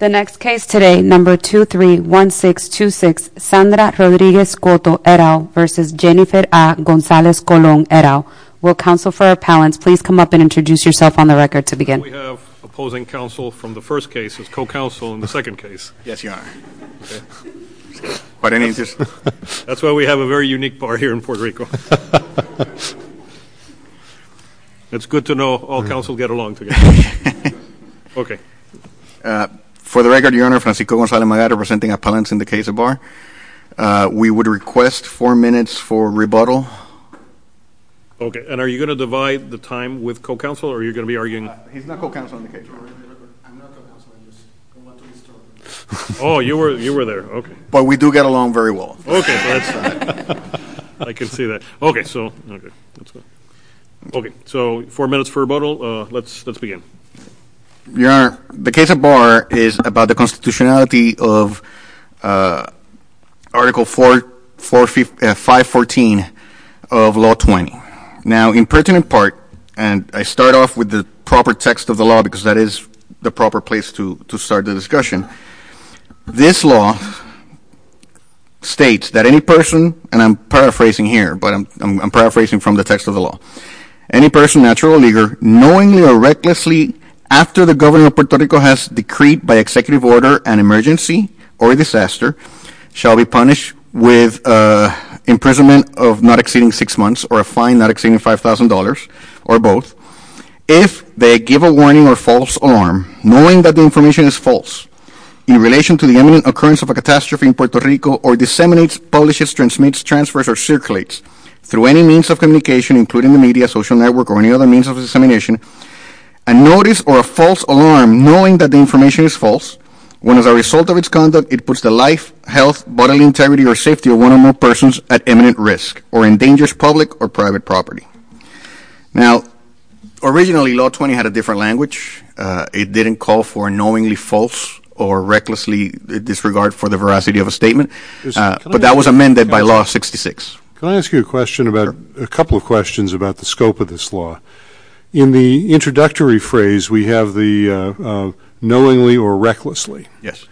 The next case today, number 231626, Sandra Rodriguez-Cotto et al. v. Jennifer A. Gonzalez-Colon et al. Will counsel for appellants please come up and introduce yourself on the record to begin. We have opposing counsel from the first case as co-counsel in the second case. Yes, you are. That's why we have a very unique bar here in Puerto Rico. It's good to know all counsel get along together. Okay. For the record, Your Honor, Francisco Gonzalez-Magado presenting appellants in the case of bar. We would request four minutes for rebuttal. Okay. And are you going to divide the time with co-counsel or are you going to be arguing? He's not co-counsel in the case. Oh, you were there. Okay. But we do get along very well. I can see that. Okay. Okay. So four minutes for rebuttal. Let's begin. Your Honor, the case of bar is about the constitutionality of Article 514 of Law 20. Now, in pertinent part, and I start off with the proper text of the law because that is the proper place to start the discussion. This law states that any person, and I'm paraphrasing here, but I'm paraphrasing from the text of the law. Any person, natural or legal, knowingly or recklessly, after the governor of Puerto Rico has decreed by executive order an emergency or disaster, shall be punished with imprisonment of not exceeding six months or a fine not exceeding $5,000 or both, if they give a warning or false alarm, knowing that the information is false in relation to the imminent occurrence of a catastrophe in Puerto Rico or disseminates, publishes, transmits, transfers, or circulates through any means of communication, including the media, social network, or any other means of dissemination, a notice or a false alarm, knowing that the information is false, when as a result of its conduct it puts the life, health, bodily integrity, or safety of one or more persons at imminent risk or endangers public or private property. Now, originally, Law 20 had a different language. It didn't call for knowingly false or recklessly disregard for the veracity of a statement, but that was amended by Law 66. Can I ask you a question about, a couple of questions about the scope of this law? In the introductory phrase, we have the knowingly or recklessly. Yes.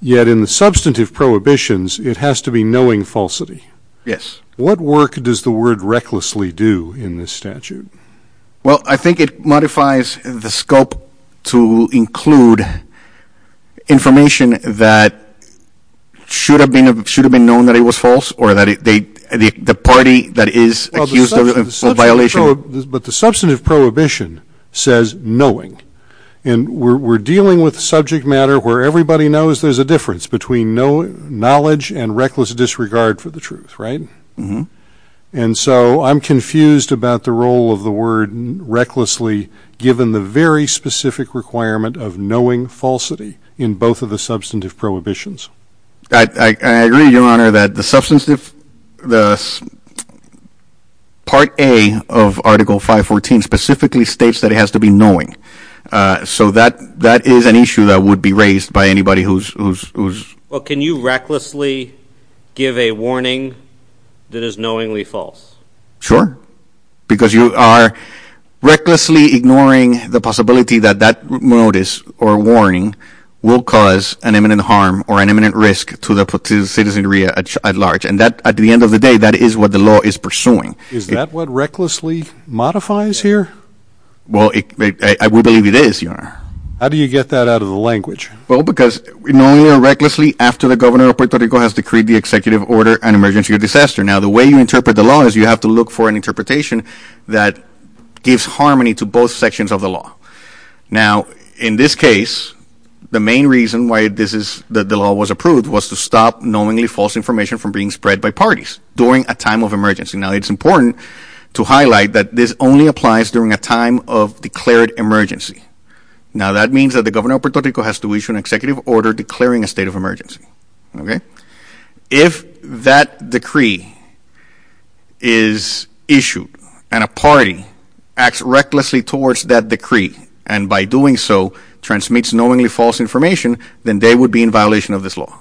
Yet in the substantive prohibitions, it has to be knowing falsity. Yes. What work does the word recklessly do in this statute? Well, I think it modifies the scope to include information that should have been known that it was false or the party that is accused of violation. But the substantive prohibition says knowing, and we're dealing with subject matter where everybody knows there's a difference between knowledge and reckless disregard for the truth, right? Mm-hmm. And so I'm confused about the role of the word recklessly given the very specific requirement of knowing falsity in both of the substantive prohibitions. I agree, Your Honor, that the part A of Article 514 specifically states that it has to be knowing. So that is an issue that would be raised by anybody who's... Well, can you recklessly give a warning that is knowingly false? Sure, because you are recklessly ignoring the possibility that that notice or warning will cause an imminent harm or an imminent risk to the citizenry at large. And at the end of the day, that is what the law is pursuing. Is that what recklessly modifies here? Well, I would believe it is, Your Honor. How do you get that out of the language? Well, because knowingly or recklessly after the governor of Puerto Rico has decreed the executive order, an emergency or disaster. Now, the way you interpret the law is you have to look for an interpretation that gives harmony to both sections of the law. Now, in this case, the main reason why the law was approved was to stop knowingly false information from being spread by parties during a time of emergency. Now, it's important to highlight that this only applies during a time of declared emergency. Now, that means that the governor of Puerto Rico has to issue an executive order declaring a state of emergency. If that decree is issued and a party acts recklessly towards that decree and by doing so transmits knowingly false information, then they would be in violation of this law.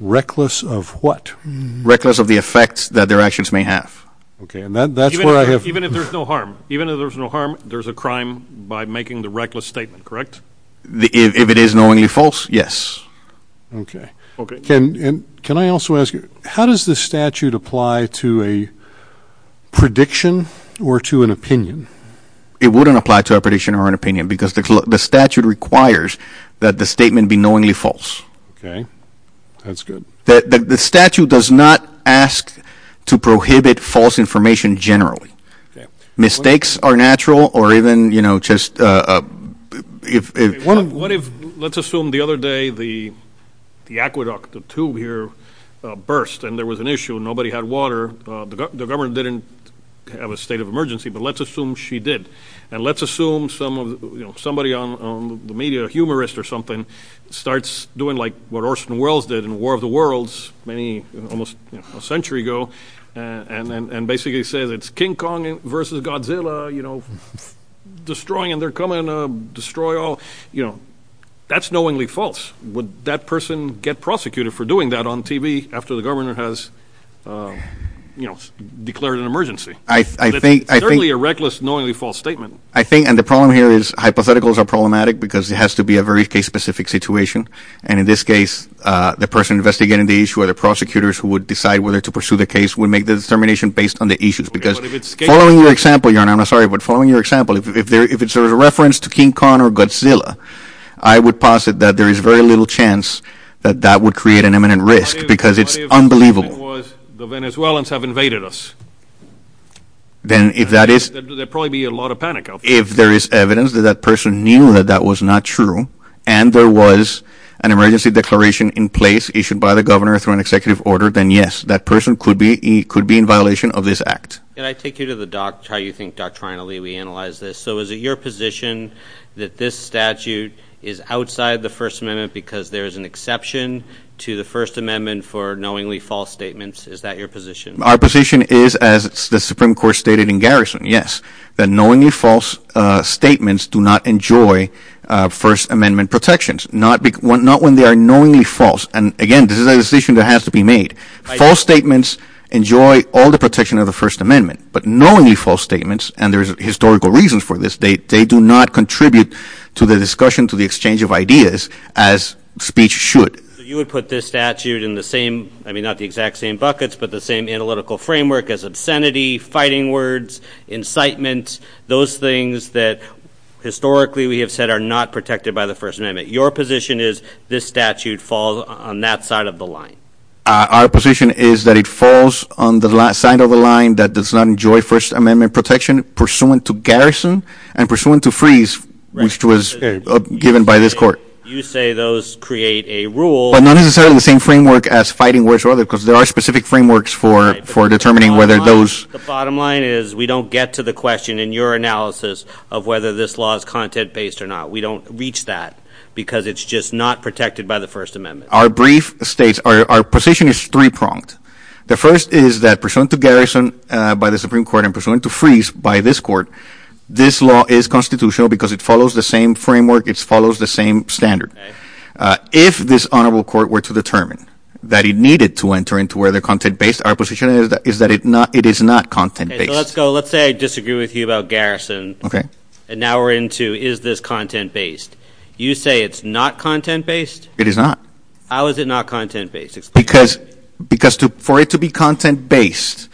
Reckless of what? Reckless of the effects that their actions may have. Okay, and that's where I have... Even if there's no harm? Even if there's no harm, there's a crime by making the reckless statement, correct? If it is knowingly false, yes. Okay. Okay. Can I also ask you, how does this statute apply to a prediction or to an opinion? It wouldn't apply to a prediction or an opinion because the statute requires that the statement be knowingly false. Okay, that's good. The statute does not ask to prohibit false information generally. Mistakes are natural or even, you know, just... What if, let's assume the other day the aqueduct, the tube here burst and there was an issue and nobody had water. The governor didn't have a state of emergency, but let's assume she did. And let's assume somebody on the media, a humorist or something, starts doing like what Orson Welles did in War of the Worlds almost a century ago and basically says it's King Kong versus Godzilla, you know, destroying and they're coming to destroy all, you know. That's knowingly false. Would that person get prosecuted for doing that on TV after the governor has, you know, declared an emergency? I think... It's certainly a reckless, knowingly false statement. I think, and the problem here is hypotheticals are problematic because it has to be a very case-specific situation. And in this case, the person investigating the issue or the prosecutors who would decide whether to pursue the case would make the determination based on the issues because following your example, Your Honor, I'm sorry, but following your example, if it's a reference to King Kong or Godzilla, I would posit that there is very little chance that that would create an imminent risk because it's unbelievable. What if the Venezuelans have invaded us? Then if that is... There'd probably be a lot of panic out there. If there is evidence that that person knew that that was not true and there was an emergency declaration in place issued by the governor through an executive order, then yes, that person could be in violation of this act. Can I take you to the doc, how you think doctrinally we analyze this? So is it your position that this statute is outside the First Amendment because there is an exception to the First Amendment for knowingly false statements? Is that your position? Our position is, as the Supreme Court stated in Garrison, yes, that knowingly false statements do not enjoy First Amendment protections, not when they are knowingly false. And again, this is a decision that has to be made. False statements enjoy all the protection of the First Amendment, but knowingly false statements, and there's historical reasons for this, they do not contribute to the discussion, to the exchange of ideas as speech should. So you would put this statute in the same, I mean, not the exact same buckets, but the same analytical framework as obscenity, fighting words, incitement, those things that historically we have said are not protected by the First Amendment. Your position is this statute falls on that side of the line. Our position is that it falls on the side of the line that does not enjoy First Amendment protection pursuant to Garrison and pursuant to Freeze, which was given by this court. You say those create a rule. But not necessarily the same framework as fighting words or other, because there are specific frameworks for determining whether those. The bottom line is we don't get to the question in your analysis of whether this law is content-based or not. We don't reach that because it's just not protected by the First Amendment. Our brief states, our position is three-pronged. The first is that pursuant to Garrison by the Supreme Court and pursuant to Freeze by this court, this law is constitutional because it follows the same framework. It follows the same standard. If this honorable court were to determine that it needed to enter into whether content-based, our position is that it is not content-based. Let's say I disagree with you about Garrison. Okay. And now we're into is this content-based. You say it's not content-based? It is not. How is it not content-based? Because for it to be content-based,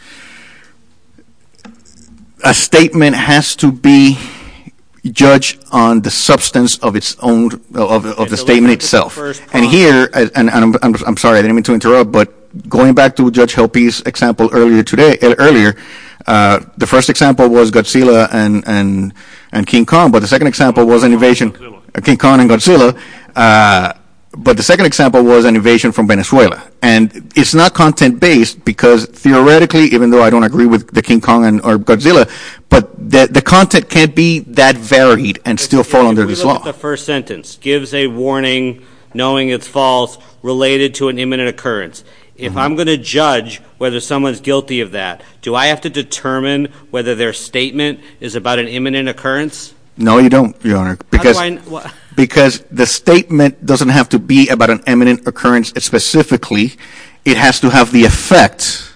a statement has to be judged on the substance of the statement itself. And here, and I'm sorry, I didn't mean to interrupt, but going back to Judge Helpe's example earlier today, the first example was Godzilla and King Kong, but the second example was an invasion, King Kong and Godzilla, but the second example was an invasion from Venezuela. And it's not content-based because theoretically, even though I don't agree with the King Kong or Godzilla, but the content can't be that varied and still fall under this law. The first sentence gives a warning, knowing it's false, related to an imminent occurrence. If I'm going to judge whether someone's guilty of that, do I have to determine whether their statement is about an imminent occurrence? No, you don't, Your Honor. Because the statement doesn't have to be about an imminent occurrence specifically. It has to have the effect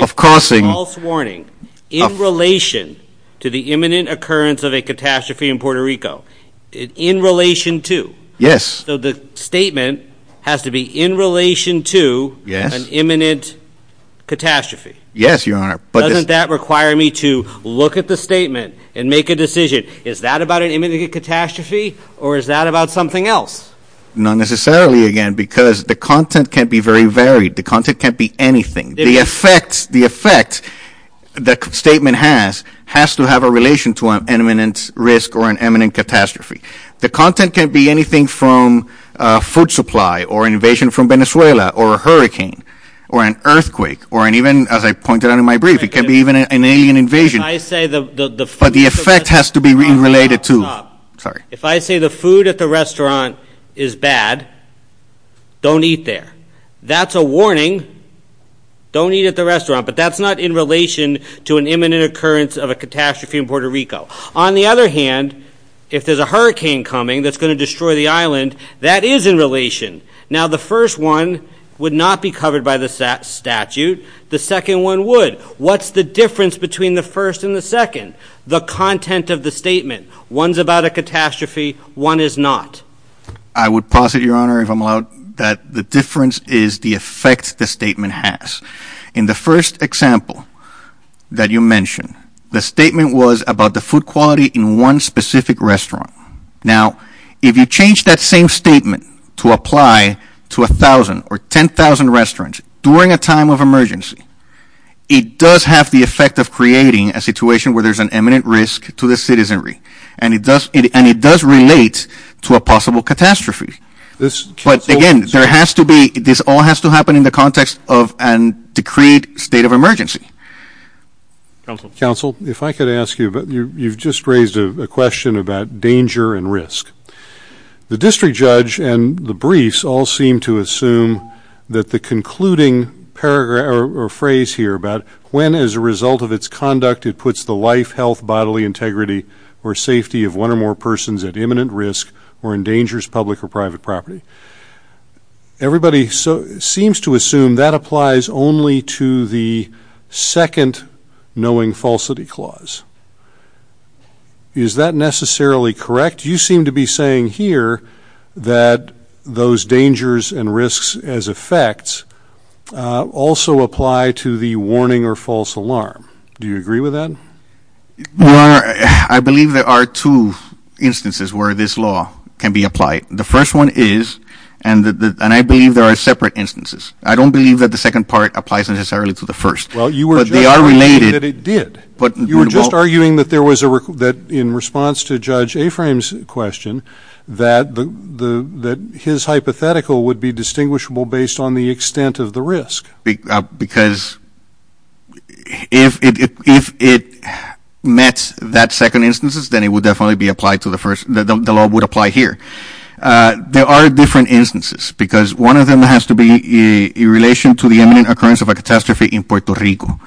of causing — A false warning in relation to the imminent occurrence of a catastrophe in Puerto Rico. In relation to. Yes. So the statement has to be in relation to an imminent catastrophe. Yes, Your Honor. Doesn't that require me to look at the statement and make a decision? Is that about an imminent catastrophe or is that about something else? Not necessarily, again, because the content can be very varied. The content can be anything. The effect the statement has has to have a relation to an imminent risk or an imminent catastrophe. The content can be anything from food supply or invasion from Venezuela or a hurricane or an earthquake or even, as I pointed out in my brief, it can be even an alien invasion. But the effect has to be related to. If I say the food at the restaurant is bad, don't eat there. That's a warning. Don't eat at the restaurant. But that's not in relation to an imminent occurrence of a catastrophe in Puerto Rico. On the other hand, if there's a hurricane coming that's going to destroy the island, that is in relation. Now, the first one would not be covered by the statute. The second one would. What's the difference between the first and the second? The content of the statement. One's about a catastrophe. One is not. I would posit, Your Honor, if I'm allowed, that the difference is the effect the statement has. In the first example that you mentioned, the statement was about the food quality in one specific restaurant. Now, if you change that same statement to apply to 1,000 or 10,000 restaurants during a time of emergency, it does have the effect of creating a situation where there's an imminent risk to the citizenry. And it does relate to a possible catastrophe. But, again, this all has to happen in the context of a decreed state of emergency. Counsel. Counsel, if I could ask you, you've just raised a question about danger and risk. The district judge and the briefs all seem to assume that the concluding phrase here about when, as a result of its conduct, it puts the life, health, bodily integrity, or safety of one or more persons at imminent risk or endangers public or private property. Everybody seems to assume that applies only to the second knowing falsity clause. Is that necessarily correct? You seem to be saying here that those dangers and risks as effects also apply to the warning or false alarm. Do you agree with that? Your Honor, I believe there are two instances where this law can be applied. The first one is, and I believe there are separate instances. I don't believe that the second part applies necessarily to the first. Well, you were just arguing that it did. You were just arguing that in response to Judge Aframe's question, that his hypothetical would be distinguishable based on the extent of the risk. Because if it met that second instance, then it would definitely be applied to the first. The law would apply here. There are different instances because one of them has to be in relation to the imminent occurrence of a catastrophe in Puerto Rico.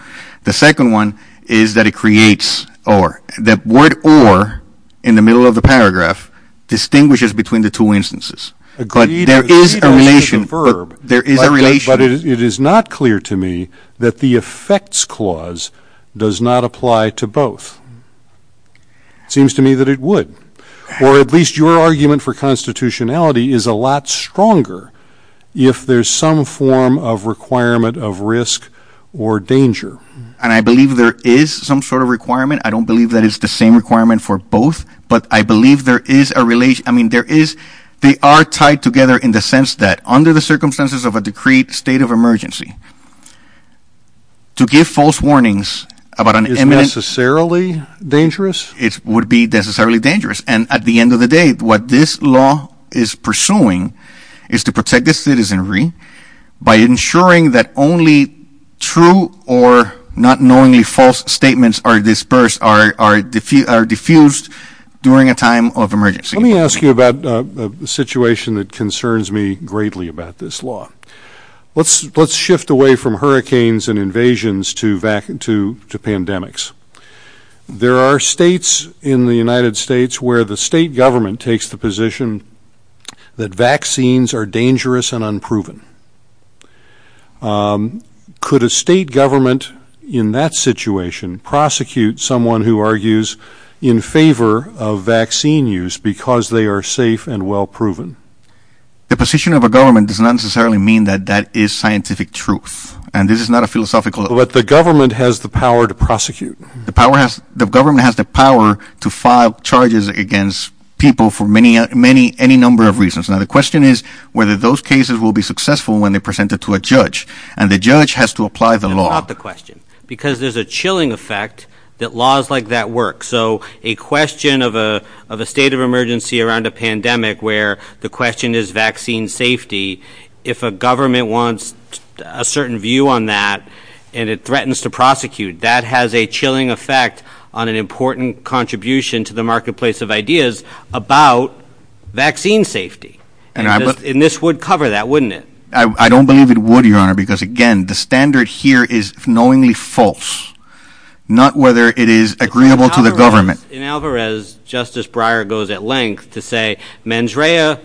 The second one is that it creates or. The word or in the middle of the paragraph distinguishes between the two instances. But there is a relation. But it is not clear to me that the effects clause does not apply to both. It seems to me that it would. Or at least your argument for constitutionality is a lot stronger if there's some form of requirement of risk or danger. And I believe there is some sort of requirement. I don't believe that it's the same requirement for both. But I believe there is a relation. I mean, there is. They are tied together in the sense that under the circumstances of a decreed state of emergency. To give false warnings about an imminent. Is necessarily dangerous. It would be necessarily dangerous. And at the end of the day, what this law is pursuing is to protect the citizenry. By ensuring that only true or not knowingly false statements are dispersed, are diffused during a time of emergency. Let me ask you about a situation that concerns me greatly about this law. Let's shift away from hurricanes and invasions to pandemics. There are states in the United States where the state government takes the position that vaccines are dangerous and unproven. Could a state government in that situation prosecute someone who argues in favor of vaccine use because they are safe and well proven? The position of a government does not necessarily mean that that is scientific truth. And this is not a philosophical. But the government has the power to prosecute. The government has the power to file charges against people for any number of reasons. Now the question is whether those cases will be successful when they are presented to a judge. And the judge has to apply the law. That's not the question. Because there is a chilling effect that laws like that work. So a question of a state of emergency around a pandemic where the question is vaccine safety. If a government wants a certain view on that and it threatens to prosecute, that has a chilling effect on an important contribution to the marketplace of ideas about vaccine safety. And this would cover that, wouldn't it? I don't believe it would, Your Honor, because, again, the standard here is knowingly false. Not whether it is agreeable to the government. In Alvarez, Justice Breyer goes at length to say mens rea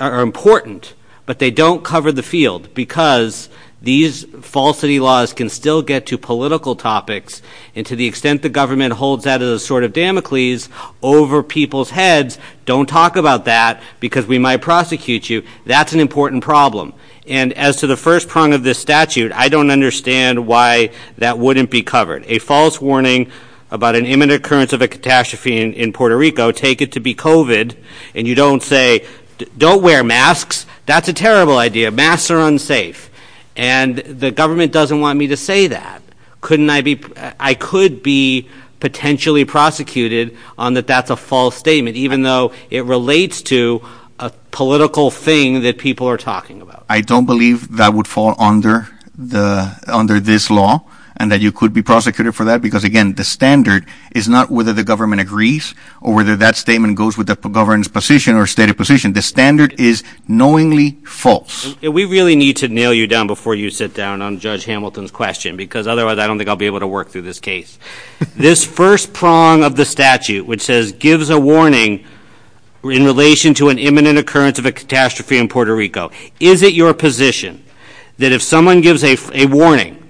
are important, but they don't cover the field because these falsity laws can still get to political topics. And to the extent the government holds that as a sort of Damocles over people's heads, don't talk about that because we might prosecute you. That's an important problem. And as to the first prong of this statute, I don't understand why that wouldn't be covered. A false warning about an imminent occurrence of a catastrophe in Puerto Rico, take it to be COVID and you don't say don't wear masks. That's a terrible idea. Masks are unsafe. And the government doesn't want me to say that. Couldn't I be I could be potentially prosecuted on that. That's a false statement, even though it relates to a political thing that people are talking about. I don't believe that would fall under the under this law and that you could be prosecuted for that. Because, again, the standard is not whether the government agrees or whether that statement goes with the government's position or stated position. The standard is knowingly false. We really need to nail you down before you sit down on Judge Hamilton's question, because otherwise I don't think I'll be able to work through this case. This first prong of the statute, which says gives a warning in relation to an imminent occurrence of a catastrophe in Puerto Rico. Is it your position that if someone gives a warning,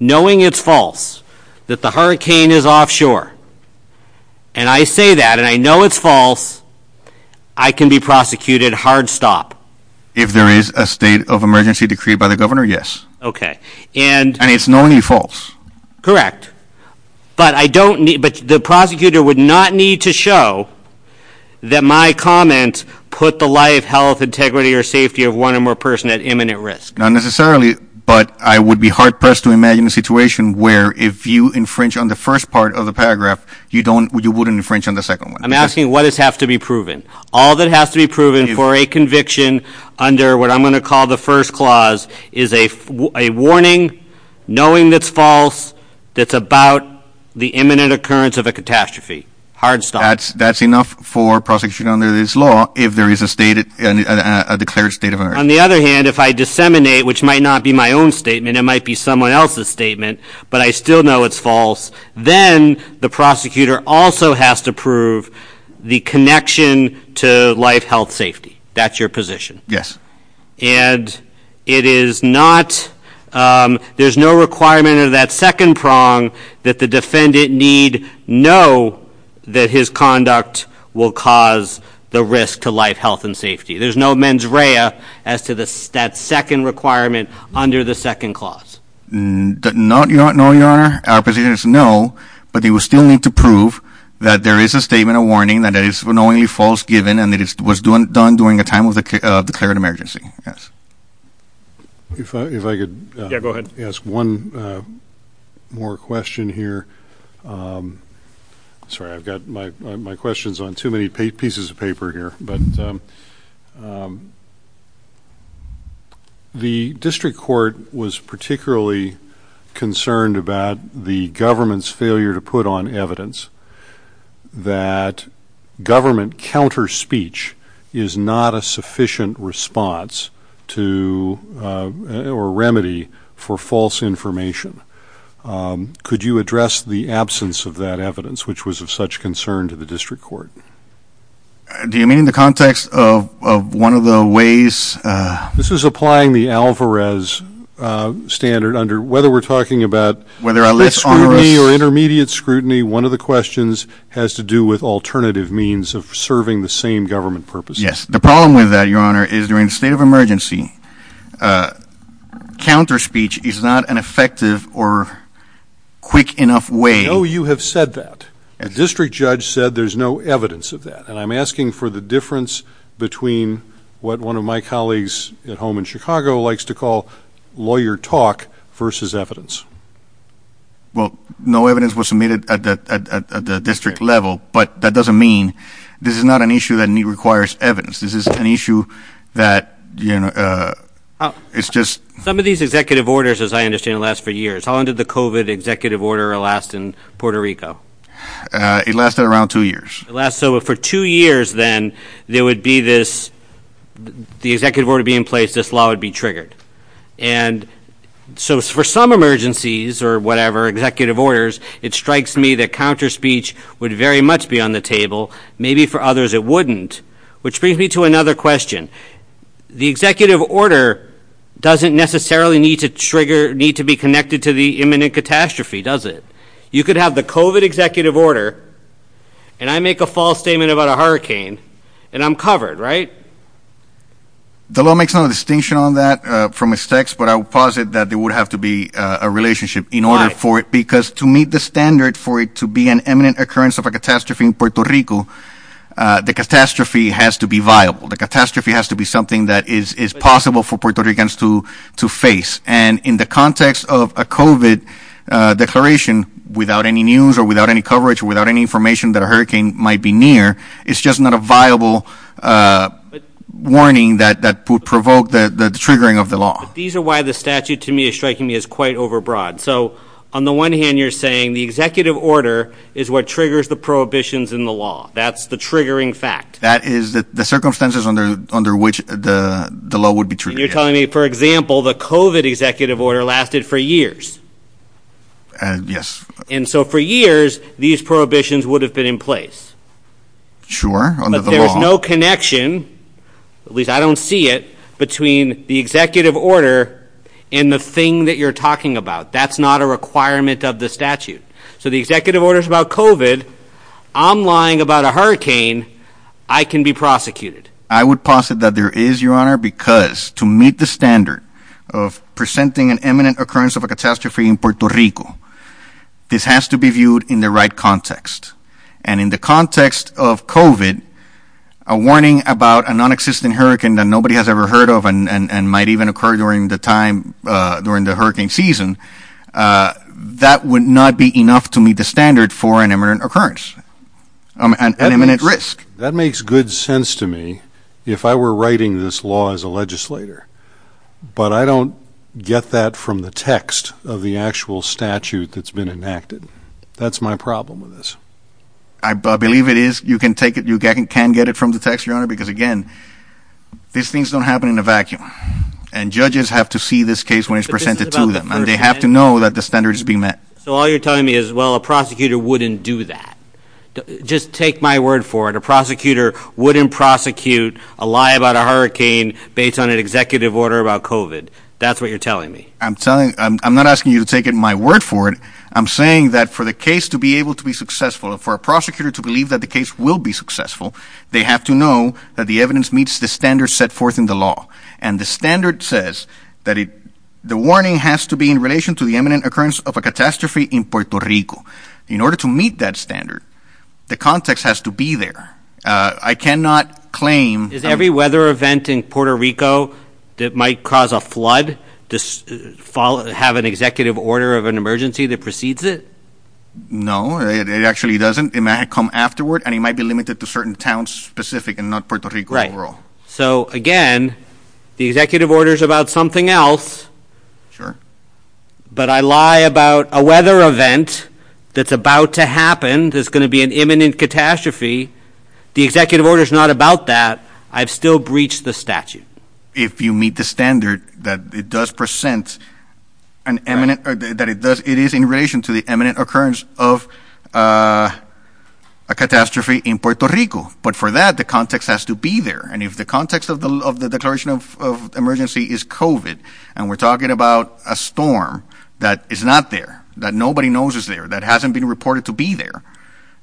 knowing it's false, that the hurricane is offshore? And I say that and I know it's false. I can be prosecuted hard stop if there is a state of emergency decreed by the governor. Yes. OK. And it's knowingly false. Correct. But I don't. But the prosecutor would not need to show that my comments put the life, health, integrity or safety of one or more person at imminent risk. Not necessarily, but I would be hard pressed to imagine a situation where if you infringe on the first part of the paragraph, you don't you wouldn't infringe on the second one. I'm asking what does have to be proven? All that has to be proven for a conviction under what I'm going to call the first clause is a warning, knowing that's false, that's about the imminent occurrence of a catastrophe. Hard stuff. That's that's enough for prosecution under this law. If there is a state and a declared state of emergency. On the other hand, if I disseminate, which might not be my own statement, it might be someone else's statement. But I still know it's false. Then the prosecutor also has to prove the connection to life, health, safety. That's your position. Yes. And it is not. There's no requirement of that second prong that the defendant need know that his conduct will cause the risk to life, health and safety. There's no mens rea as to the second requirement under the second clause. Not your honor. Our position is no. But they will still need to prove that there is a statement, a warning that is knowingly false, given, and that it was done during a time of the declared emergency. Yes. If I if I could go ahead, ask one more question here. Sorry, I've got my my questions on too many pieces of paper here. But the district court was particularly concerned about the government's failure to put on evidence. That government counter speech is not a sufficient response to or remedy for false information. Could you address the absence of that evidence, which was of such concern to the district court? Do you mean in the context of one of the ways this is applying the Alvarez standard under whether we're talking about. Whether a less or intermediate scrutiny, one of the questions has to do with alternative means of serving the same government purpose. Yes. The problem with that, your honor, is during a state of emergency. Counter speech is not an effective or quick enough way. Oh, you have said that a district judge said there's no evidence of that. And I'm asking for the difference between what one of my colleagues at home in Chicago likes to call lawyer talk versus evidence. Well, no evidence was submitted at the district level, but that doesn't mean this is not an issue that requires evidence. This is an issue that, you know, it's just some of these executive orders, as I understand, last for years. How long did the covid executive order last in Puerto Rico? It lasted around two years last. So for two years, then there would be this. The executive order being placed, this law would be triggered. And so for some emergencies or whatever executive orders, it strikes me that counter speech would very much be on the table. Maybe for others, it wouldn't. Which brings me to another question. The executive order doesn't necessarily need to trigger need to be connected to the imminent catastrophe, does it? You could have the covid executive order and I make a false statement about a hurricane and I'm covered. Right. The law makes no distinction on that from its text, but I would posit that there would have to be a relationship in order for it. Because to meet the standard for it to be an imminent occurrence of a catastrophe in Puerto Rico, the catastrophe has to be viable. The catastrophe has to be something that is possible for Puerto Ricans to to face. And in the context of a covid declaration without any news or without any coverage, without any information that a hurricane might be near, it's just not a viable warning that that would provoke the triggering of the law. These are why the statute, to me, is striking me as quite overbroad. So on the one hand, you're saying the executive order is what triggers the prohibitions in the law. That's the triggering fact. That is the circumstances under under which the law would be true. You're telling me, for example, the covid executive order lasted for years. And yes. And so for years, these prohibitions would have been in place. Sure. There is no connection, at least I don't see it, between the executive order and the thing that you're talking about. That's not a requirement of the statute. So the executive orders about covid. I'm lying about a hurricane. I can be prosecuted. I would posit that there is your honor, because to meet the standard of presenting an imminent occurrence of a catastrophe in Puerto Rico, this has to be viewed in the right context. And in the context of covid, a warning about a nonexistent hurricane that nobody has ever heard of and might even occur during the time, during the hurricane season, that would not be enough to meet the standard for an imminent occurrence and imminent risk. That makes good sense to me if I were writing this law as a legislator. But I don't get that from the text of the actual statute that's been enacted. That's my problem with this. I believe it is. You can take it. You can get it from the text, your honor, because, again, these things don't happen in a vacuum. And judges have to see this case when it's presented to them and they have to know that the standard is being met. So all you're telling me is, well, a prosecutor wouldn't do that. Just take my word for it. A prosecutor wouldn't prosecute a lie about a hurricane based on an executive order about covid. That's what you're telling me. I'm telling I'm not asking you to take my word for it. I'm saying that for the case to be able to be successful and for a prosecutor to believe that the case will be successful, they have to know that the evidence meets the standards set forth in the law. And the standard says that the warning has to be in relation to the imminent occurrence of a catastrophe in Puerto Rico. In order to meet that standard, the context has to be there. I cannot claim. Is every weather event in Puerto Rico that might cause a flood to have an executive order of an emergency that precedes it? No, it actually doesn't. It might come afterward and it might be limited to certain towns specific and not Puerto Rico. Right. So, again, the executive order is about something else. Sure. But I lie about a weather event that's about to happen. There's going to be an imminent catastrophe. The executive order is not about that. I've still breached the statute. If you meet the standard that it does present an imminent that it does, it is in relation to the imminent occurrence of a catastrophe in Puerto Rico. But for that, the context has to be there. And if the context of the declaration of emergency is COVID, and we're talking about a storm that is not there, that nobody knows is there, that hasn't been reported to be there,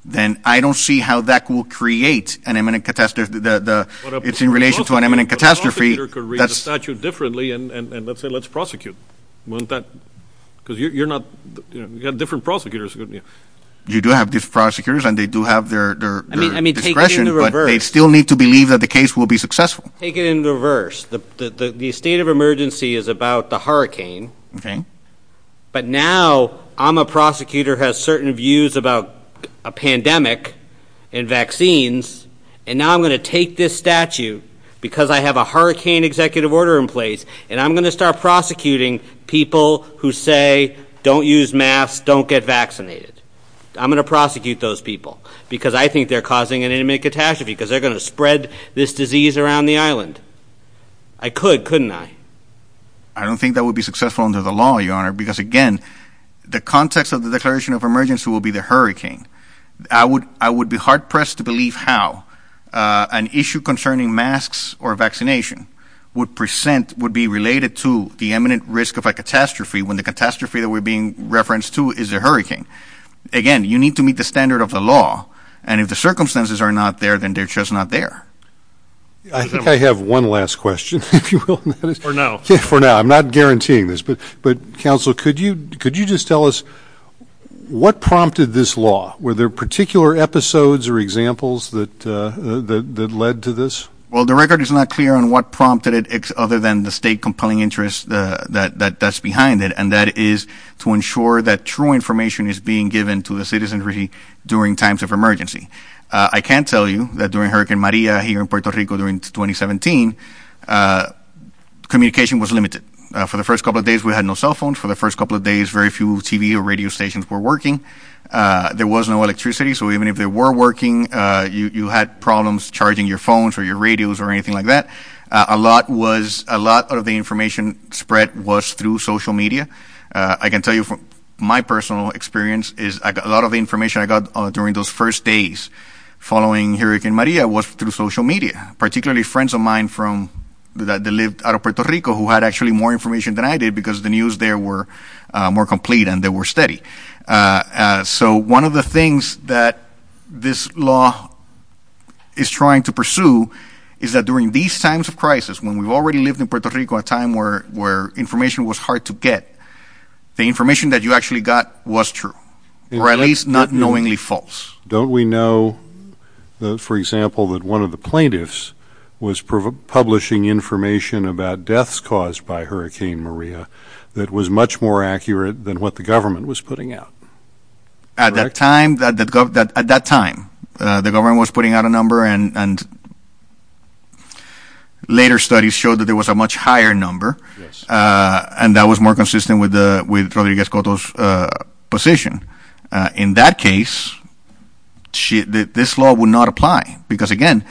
then I don't see how that will create an imminent catastrophe. It's in relation to an imminent catastrophe. The prosecutor could read the statute differently and let's say let's prosecute. Because you're not – you've got different prosecutors. You do have these prosecutors and they do have their discretion, but they still need to believe that the case will be successful. Take it in reverse. The state of emergency is about the hurricane. But now I'm a prosecutor who has certain views about a pandemic and vaccines, and now I'm going to take this statute because I have a hurricane executive order in place, and I'm going to start prosecuting people who say don't use masks, don't get vaccinated. I'm going to prosecute those people because I think they're causing an imminent catastrophe because they're going to spread this disease around the island. I could, couldn't I? I don't think that would be successful under the law, Your Honor, because again, the context of the declaration of emergency will be the hurricane. I would be hard-pressed to believe how an issue concerning masks or vaccination would present, would be related to the imminent risk of a catastrophe when the catastrophe that we're being referenced to is a hurricane. Again, you need to meet the standard of the law, and if the circumstances are not there, then they're just not there. I think I have one last question, if you will. For now. For now. I'm not guaranteeing this. But, Counselor, could you just tell us what prompted this law? Were there particular episodes or examples that led to this? Well, the record is not clear on what prompted it other than the state compelling interest that's behind it, and that is to ensure that true information is being given to the citizenry during times of emergency. I can tell you that during Hurricane Maria here in Puerto Rico during 2017, communication was limited. For the first couple of days, we had no cell phones. For the first couple of days, very few TV or radio stations were working. There was no electricity, so even if they were working, you had problems charging your phones or your radios or anything like that. A lot of the information spread was through social media. I can tell you from my personal experience is a lot of the information I got during those first days following Hurricane Maria was through social media, particularly friends of mine that lived out of Puerto Rico who had actually more information than I did because the news there were more complete and they were steady. So one of the things that this law is trying to pursue is that during these times of crisis, when we already lived in Puerto Rico, a time where information was hard to get, the information that you actually got was true, or at least not knowingly false. Don't we know, for example, that one of the plaintiffs was publishing information about deaths caused by Hurricane Maria that was much more accurate than what the government was putting out? At that time, the government was putting out a number and later studies showed that there was a much higher number and that was more consistent with Rodriguez-Cotto's position. In that case, this law would not apply because, again,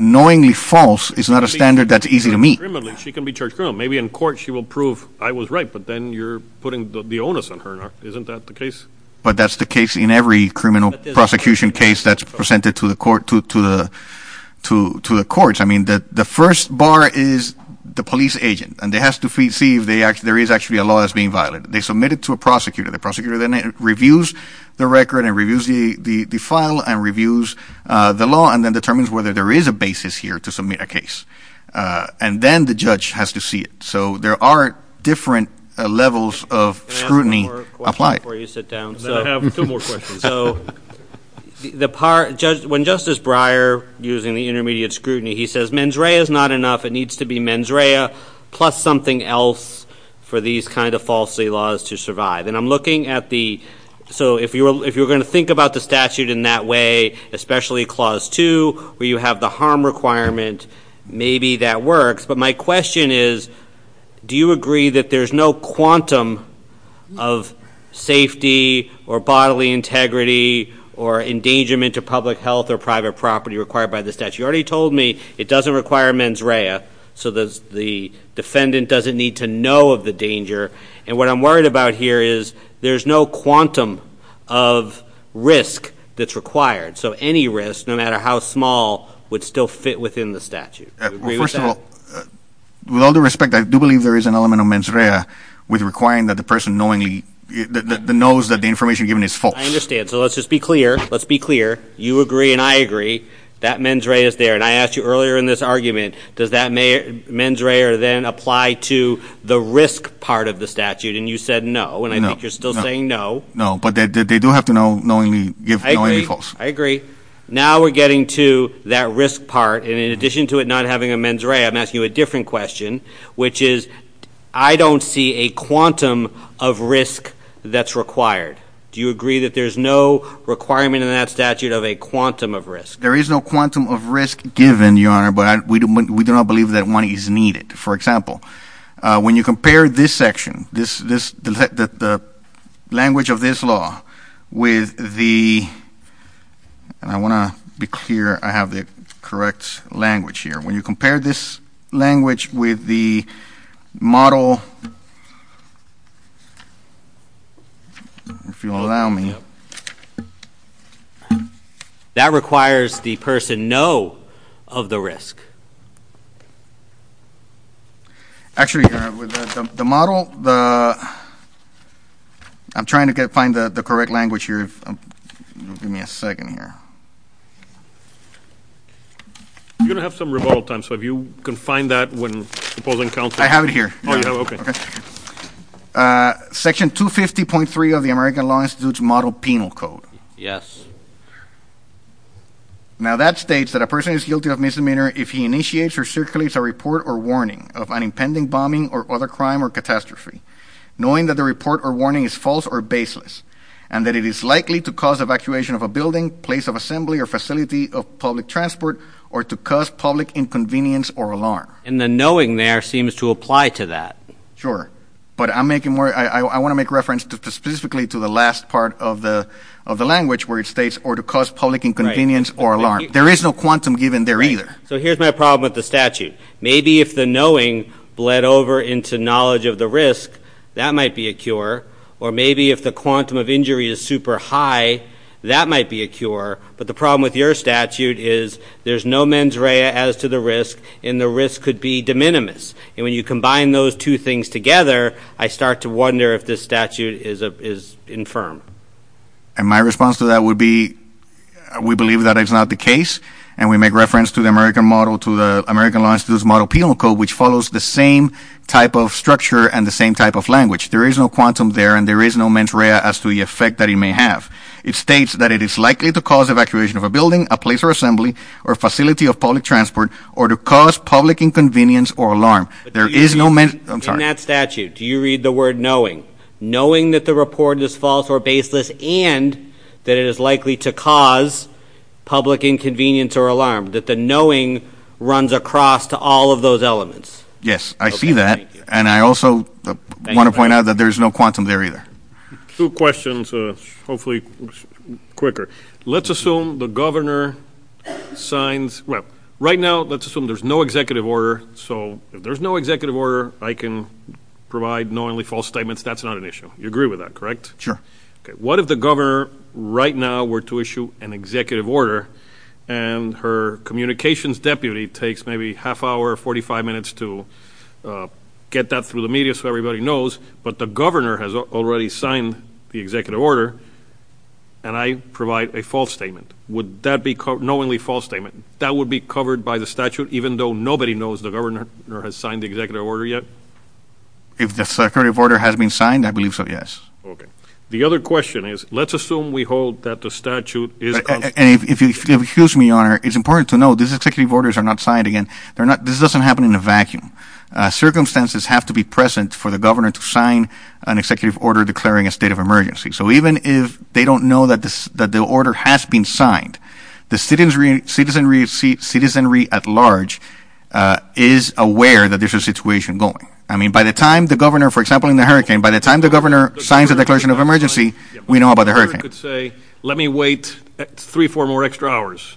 knowingly false is not a standard that's easy to meet. She can be charged criminally. Maybe in court she will prove I was right, but then you're putting the onus on her. Isn't that the case? But that's the case in every criminal prosecution case that's presented to the courts. I mean, the first bar is the police agent, and they have to see if there is actually a law that's being violated. They submit it to a prosecutor. The prosecutor then reviews the record and reviews the file and reviews the law and then determines whether there is a basis here to submit a case, and then the judge has to see it. So there are different levels of scrutiny applied. Can I ask one more question before you sit down? I have two more questions. When Justice Breyer, using the intermediate scrutiny, he says mens rea is not enough. It needs to be mens rea plus something else for these kind of falsely laws to survive. And I'm looking at the so if you're going to think about the statute in that way, especially Clause 2 where you have the harm requirement, maybe that works. But my question is do you agree that there's no quantum of safety or bodily integrity or endangerment to public health or private property required by the statute? You already told me it doesn't require mens rea, so the defendant doesn't need to know of the danger. And what I'm worried about here is there's no quantum of risk that's required. So any risk, no matter how small, would still fit within the statute. Do you agree with that? Well, first of all, with all due respect, I do believe there is an element of mens rea with requiring that the person knowingly knows that the information given is false. I understand. So let's just be clear. Let's be clear. You agree and I agree. That mens rea is there. And I asked you earlier in this argument, does that mens rea then apply to the risk part of the statute? And you said no, and I think you're still saying no. No, but they do have to know knowingly give false. I agree. Now we're getting to that risk part. And in addition to it not having a mens rea, I'm asking you a different question, which is I don't see a quantum of risk that's required. Do you agree that there's no requirement in that statute of a quantum of risk? There is no quantum of risk given, Your Honor, but we do not believe that one is needed. For example, when you compare this section, the language of this law with the ‑‑ and I want to be clear I have the correct language here. When you compare this language with the model, if you'll allow me. That requires the person know of the risk. Actually, Your Honor, with the model, I'm trying to find the correct language here. Give me a second here. You're going to have some rebuttal time, so if you can find that when opposing counsel. I have it here. Oh, you have it. Okay. Section 250.3 of the American Law Institute's model penal code. Yes. Now that states that a person is guilty of misdemeanor if he initiates or circulates a report or warning of an impending bombing or other crime or catastrophe, knowing that the report or warning is false or baseless, and that it is likely to cause evacuation of a building, place of assembly, or facility of public transport, or to cause public inconvenience or alarm. And the knowing there seems to apply to that. Sure. But I want to make reference specifically to the last part of the language where it states or to cause public inconvenience or alarm. There is no quantum given there either. So here's my problem with the statute. Maybe if the knowing bled over into knowledge of the risk, that might be a cure, or maybe if the quantum of injury is super high, that might be a cure. But the problem with your statute is there's no mens rea as to the risk, and the risk could be de minimis. And when you combine those two things together, I start to wonder if this statute is infirm. And my response to that would be we believe that it's not the case, and we make reference to the American Law Institute's model penal code, which follows the same type of structure and the same type of language. There is no quantum there, and there is no mens rea as to the effect that it may have. It states that it is likely to cause evacuation of a building, a place or assembly, or a facility of public transport, or to cause public inconvenience or alarm. There is no mens rea. In that statute, do you read the word knowing, knowing that the report is false or baseless and that it is likely to cause public inconvenience or alarm, that the knowing runs across to all of those elements? Yes, I see that. And I also want to point out that there is no quantum there either. Two questions, hopefully quicker. Let's assume the governor signs. Well, right now, let's assume there's no executive order. So if there's no executive order, I can provide knowingly false statements. That's not an issue. You agree with that, correct? Sure. Okay. What if the governor right now were to issue an executive order, and her communications deputy takes maybe half hour, 45 minutes to get that through the media so everybody knows, but the governor has already signed the executive order, and I provide a false statement? Would that be knowingly false statement? That would be covered by the statute, even though nobody knows the governor has signed the executive order yet? If the executive order has been signed, I believe so, yes. Okay. The other question is, let's assume we hold that the statute is constant. And if you'll excuse me, Your Honor, it's important to know these executive orders are not signed again. This doesn't happen in a vacuum. Circumstances have to be present for the governor to sign an executive order declaring a state of emergency. So even if they don't know that the order has been signed, the citizenry at large is aware that there's a situation going. I mean, by the time the governor, for example, in the hurricane, by the time the governor signs a declaration of emergency, we know about the hurricane. The governor could say, let me wait three, four more extra hours.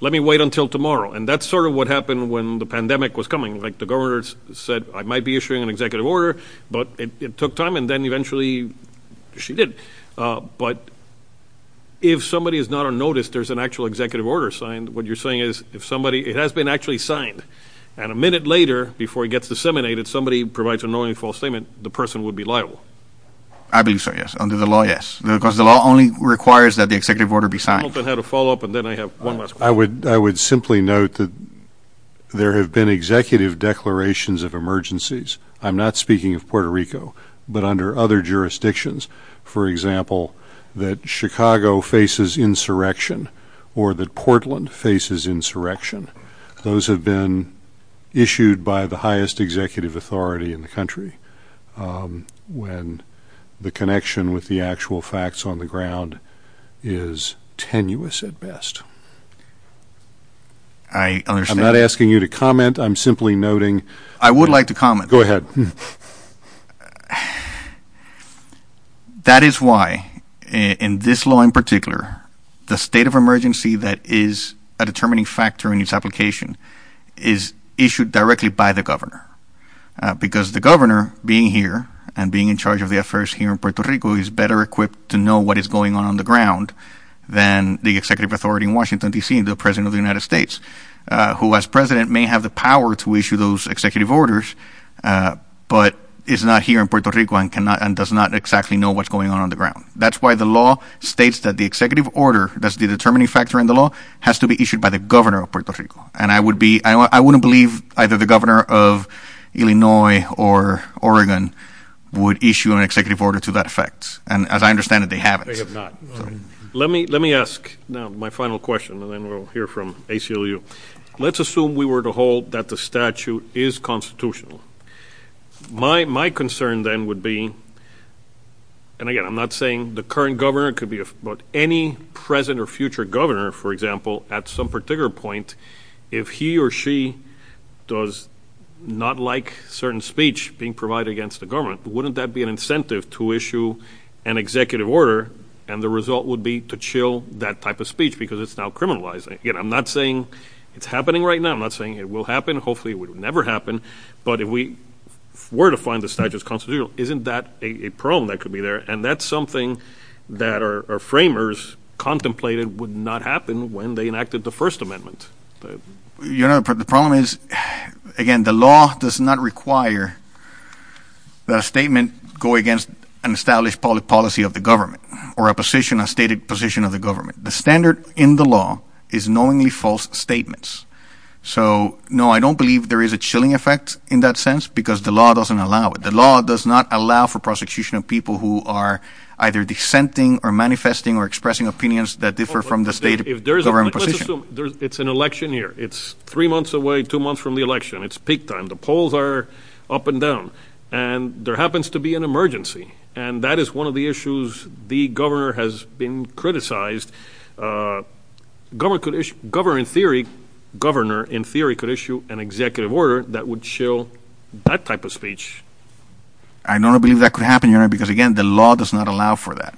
Let me wait until tomorrow. And that's sort of what happened when the pandemic was coming. Like the governor said, I might be issuing an executive order, but it took time, and then eventually she did. But if somebody is not on notice there's an actual executive order signed, what you're saying is if somebody – it has been actually signed, and a minute later before it gets disseminated, somebody provides a knowingly false statement, the person would be liable. I believe so, yes. Under the law, yes, because the law only requires that the executive order be signed. I don't know how to follow up, and then I have one last question. I would simply note that there have been executive declarations of emergencies. I'm not speaking of Puerto Rico, but under other jurisdictions. For example, that Chicago faces insurrection or that Portland faces insurrection, those have been issued by the highest executive authority in the country. When the connection with the actual facts on the ground is tenuous at best. I understand. I'm not asking you to comment. I'm simply noting. I would like to comment. That is why in this law in particular, the state of emergency that is a determining factor in its application is issued directly by the governor because the governor being here and being in charge of the affairs here in Puerto Rico is better equipped to know what is going on on the ground than the executive authority in Washington, D.C., the president of the United States, who as president may have the power to issue those executive orders, but is not here in Puerto Rico and does not exactly know what's going on on the ground. That's why the law states that the executive order that's the determining factor in the law has to be issued by the governor of Puerto Rico. And I wouldn't believe either the governor of Illinois or Oregon would issue an executive order to that effect. And as I understand it, they haven't. They have not. Let me ask now my final question, and then we'll hear from ACLU. Let's assume we were to hold that the statute is constitutional. My concern then would be, and again, I'm not saying the current governor. It could be about any present or future governor, for example, at some particular point, if he or she does not like certain speech being provided against the government, wouldn't that be an incentive to issue an executive order? And the result would be to chill that type of speech because it's now criminalized. Again, I'm not saying it's happening right now. I'm not saying it will happen. Hopefully it will never happen. But if we were to find the statute is constitutional, isn't that a problem that could be there? And that's something that our framers contemplated would not happen when they enacted the First Amendment. The problem is, again, the law does not require that a statement go against an established policy of the government or a stated position of the government. The standard in the law is knowingly false statements. So, no, I don't believe there is a chilling effect in that sense because the law doesn't allow it. The law does not allow for prosecution of people who are either dissenting or manifesting or expressing opinions that differ from the stated government position. Let's assume it's an election year. It's three months away, two months from the election. It's peak time. The polls are up and down. And there happens to be an emergency, and that is one of the issues the governor has been criticized. The governor, in theory, could issue an executive order that would chill that type of speech. I don't believe that could happen because, again, the law does not allow for that.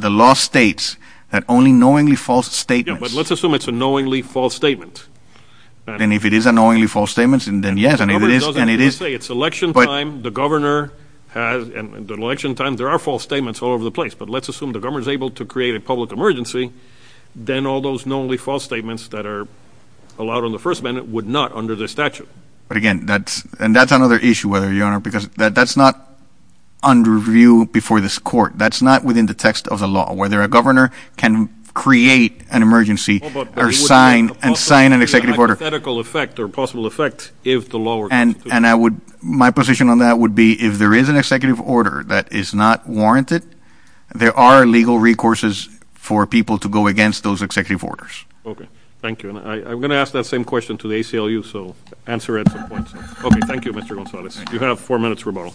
The law states that only knowingly false statements. Yeah, but let's assume it's a knowingly false statement. And if it is a knowingly false statement, then yes, and it is. It's election time. The governor has an election time. There are false statements all over the place. But let's assume the governor is able to create a public emergency. Then all those knowingly false statements that are allowed on the first amendment would not under the statute. But, again, that's another issue, Your Honor, because that's not under review before this court. That's not within the text of the law, whether a governor can create an emergency or sign and sign an executive order. But it would have a hypothetical effect or possible effect if the law were to institute it. My position on that would be if there is an executive order that is not warranted, there are legal recourses for people to go against those executive orders. Okay, thank you. And I'm going to ask that same question to the ACLU, so answer it at some point. Okay, thank you, Mr. Gonzalez. You have four minutes rebuttal.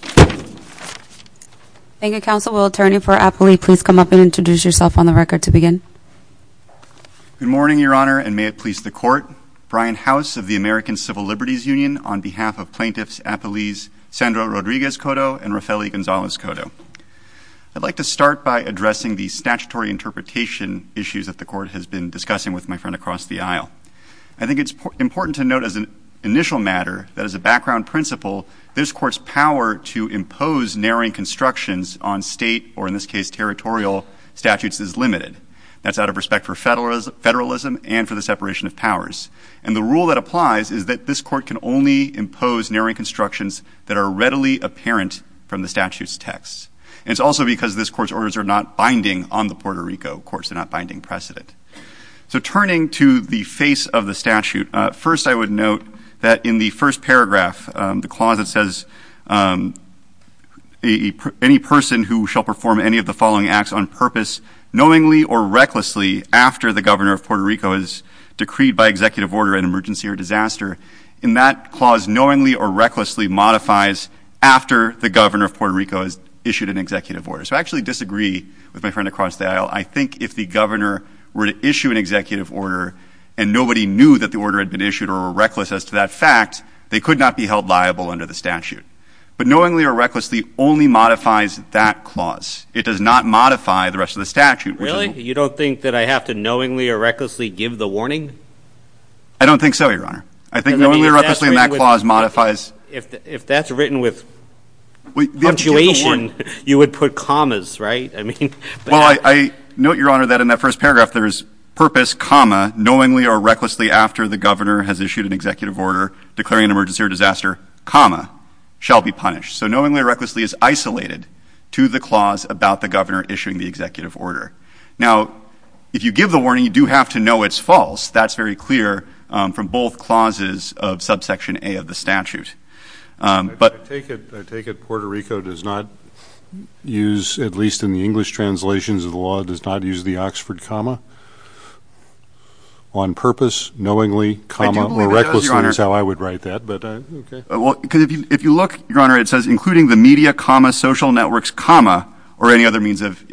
Thank you, Counsel. Will Attorney for Apley please come up and introduce yourself on the record to begin? Good morning, Your Honor, and may it please the Court. Brian House of the American Civil Liberties Union on behalf of plaintiffs Apley's Sandra Rodriguez Cotto and Raffaele Gonzalez Cotto. I'd like to start by addressing the statutory interpretation issues that the Court has been discussing with my friend across the aisle. I think it's important to note as an initial matter that as a background principle, this Court's power to impose narrowing constructions on state or, in this case, territorial statutes is limited. That's out of respect for federalism and for the separation of powers. And the rule that applies is that this Court can only impose narrowing constructions that are readily apparent from the statute's text. And it's also because this Court's orders are not binding on the Puerto Rico courts. They're not binding precedent. So turning to the face of the statute, first I would note that in the first paragraph, the clause that says any person who shall perform any of the following acts on purpose, knowingly or recklessly after the governor of Puerto Rico is decreed by executive order an emergency or disaster, in that clause knowingly or recklessly modifies after the governor of Puerto Rico has issued an executive order. So I actually disagree with my friend across the aisle. I think if the governor were to issue an executive order and nobody knew that the order had been issued or were reckless as to that fact, they could not be held liable under the statute. But knowingly or recklessly only modifies that clause. It does not modify the rest of the statute. Really? You don't think that I have to knowingly or recklessly give the warning? I don't think so, Your Honor. I think knowingly or recklessly in that clause modifies. If that's written with punctuation, you would put commas, right? Well, I note, Your Honor, that in that first paragraph there is purpose, comma, knowingly or recklessly after the governor has issued an executive order declaring an emergency or disaster, comma, shall be punished. So knowingly or recklessly is isolated to the clause about the governor issuing the executive order. Now, if you give the warning, you do have to know it's false. That's very clear from both clauses of subsection A of the statute. I take it Puerto Rico does not use, at least in the English translations of the law, does not use the Oxford comma? On purpose, knowingly, comma, or recklessly is how I would write that. If you look, Your Honor, it says including the media, comma, social networks, comma, or any other means of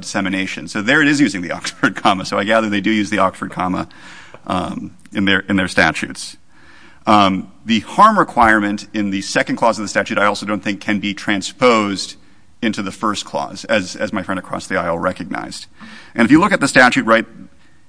dissemination. So there it is using the Oxford comma. So I gather they do use the Oxford comma in their statutes. The harm requirement in the second clause of the statute I also don't think can be transposed into the first clause, as my friend across the aisle recognized. And if you look at the statute, right,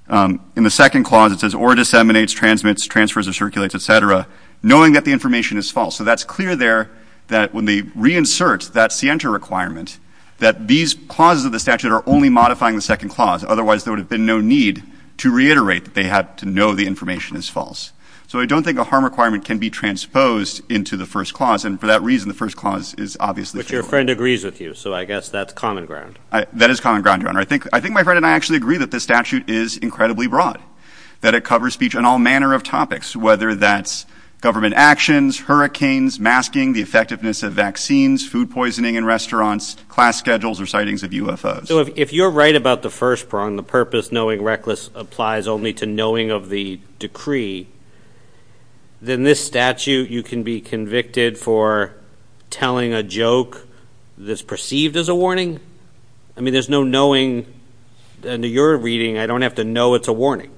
in the second clause it says, or disseminates, transmits, transfers, or circulates, et cetera, knowing that the information is false. So that's clear there that when they reinsert that scienter requirement, that these clauses of the statute are only modifying the second clause. Otherwise, there would have been no need to reiterate that they had to know the information is false. So I don't think a harm requirement can be transposed into the first clause. And for that reason, the first clause is obviously fair. But your friend agrees with you. So I guess that's common ground. That is common ground, Your Honor. I think my friend and I actually agree that the statute is incredibly broad, that it covers speech on all manner of topics, whether that's government actions, hurricanes, masking, the effectiveness of vaccines, food poisoning in restaurants, class schedules, or sightings of UFOs. So if you're right about the first prong, the purpose knowing reckless applies only to knowing of the decree, then this statute, you can be convicted for telling a joke that's perceived as a warning? I mean, there's no knowing. Under your reading, I don't have to know it's a warning.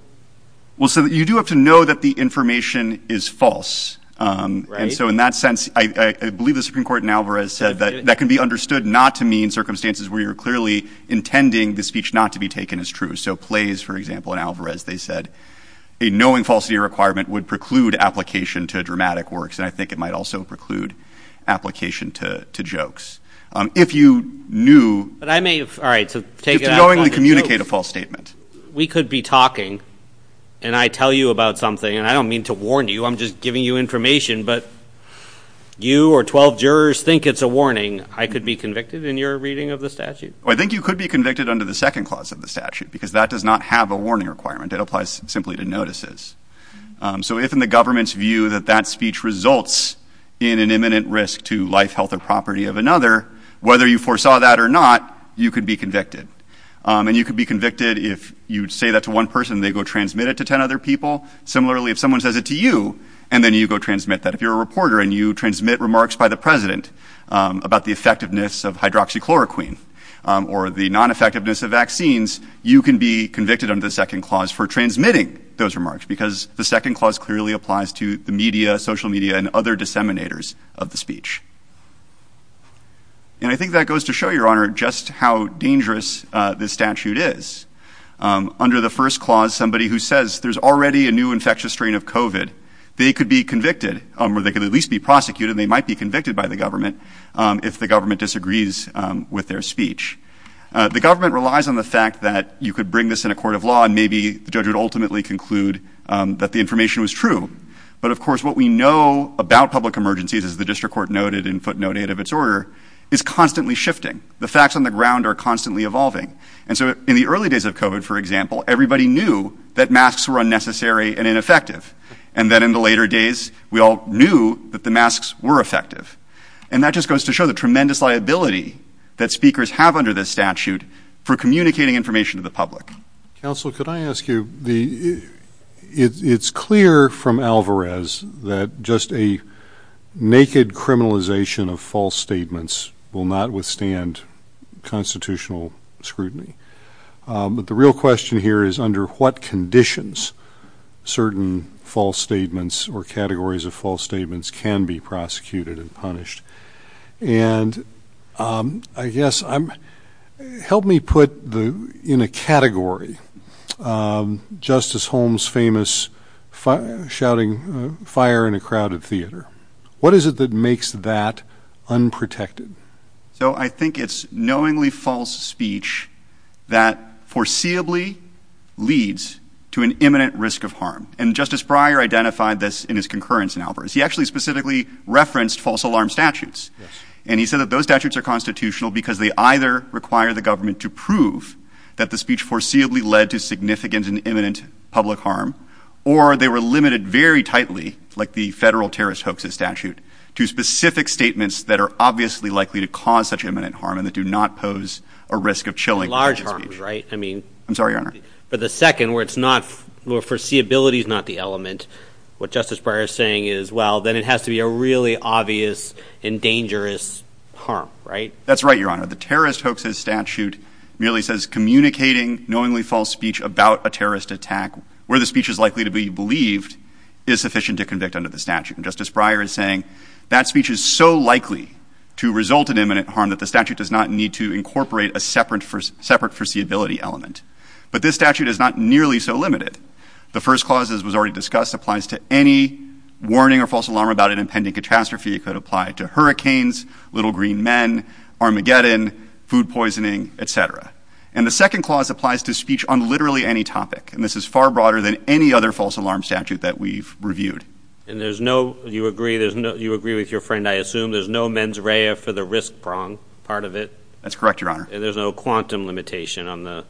Well, so you do have to know that the information is false. And so in that sense, I believe the Supreme Court in Alvarez said that that can be understood not to mean in circumstances where you're clearly intending the speech not to be taken as true. So plays, for example, in Alvarez, they said a knowing falsity requirement would preclude application to dramatic works. And I think it might also preclude application to jokes. If you knew to knowingly communicate a false statement. We could be talking, and I tell you about something, and I don't mean to warn you. I'm just giving you information. But you or 12 jurors think it's a warning. I could be convicted in your reading of the statute? I think you could be convicted under the second clause of the statute, because that does not have a warning requirement. It applies simply to notices. So if in the government's view that that speech results in an imminent risk to life, health, or property of another, whether you foresaw that or not, you could be convicted. And you could be convicted if you say that to one person, they go transmit it to 10 other people. Similarly, if someone says it to you, and then you go transmit that. If you're a reporter and you transmit remarks by the president about the effectiveness of hydroxychloroquine or the non effectiveness of vaccines, you can be convicted under the second clause for transmitting those remarks because the second clause clearly applies to the media, social media and other disseminators of the speech. And I think that goes to show your honor just how dangerous this statute is. Under the first clause, somebody who says there's already a new infectious strain of COVID. They could be convicted or they could at least be prosecuted. They might be convicted by the government if the government disagrees with their speech. The government relies on the fact that you could bring this in a court of law and maybe the judge would ultimately conclude that the information was true. But of course, what we know about public emergencies, as the district court noted in footnote eight of its order, is constantly shifting. The facts on the ground are constantly evolving. And so in the early days of COVID, for example, everybody knew that masks were unnecessary and ineffective. And then in the later days, we all knew that the masks were effective. And that just goes to show the tremendous liability that speakers have under this statute for communicating information to the public. Counsel, could I ask you the it's clear from Alvarez that just a naked criminalization of false statements will not withstand constitutional scrutiny. But the real question here is under what conditions certain false statements or categories of false statements can be prosecuted and punished. And I guess I'm help me put the in a category. Justice Holmes, famous shouting fire in a crowded theater. What is it that makes that unprotected? So I think it's knowingly false speech that foreseeably leads to an imminent risk of harm. And Justice Breyer identified this in his concurrence in Alvarez. He actually specifically referenced false alarm statutes. And he said that those statutes are constitutional because they either require the government to prove that the speech foreseeably led to significant and imminent public harm. Or they were limited very tightly like the federal terrorist hoaxes statute to specific statements that are obviously likely to cause such imminent harm and that do not pose a risk of chilling large. Right. I mean, I'm sorry. But the second where it's not foreseeability is not the element. What Justice Breyer is saying is, well, then it has to be a really obvious and dangerous harm. Right. That's right. Your Honor. The terrorist hoaxes statute merely says communicating knowingly false speech about a terrorist attack where the speech is likely to be believed is sufficient to convict under the statute. And Justice Breyer is saying that speech is so likely to result in imminent harm that the statute does not need to incorporate a separate for separate foreseeability element. But this statute is not nearly so limited. The first clause, as was already discussed, applies to any warning or false alarm about an impending catastrophe. It could apply to hurricanes, little green men, Armageddon, food poisoning, et cetera. And the second clause applies to speech on literally any topic. And this is far broader than any other false alarm statute that we've reviewed. And there's no you agree. There's no you agree with your friend. I assume there's no mens rea for the risk prong part of it. That's correct. Your Honor. And there's no quantum limitation on the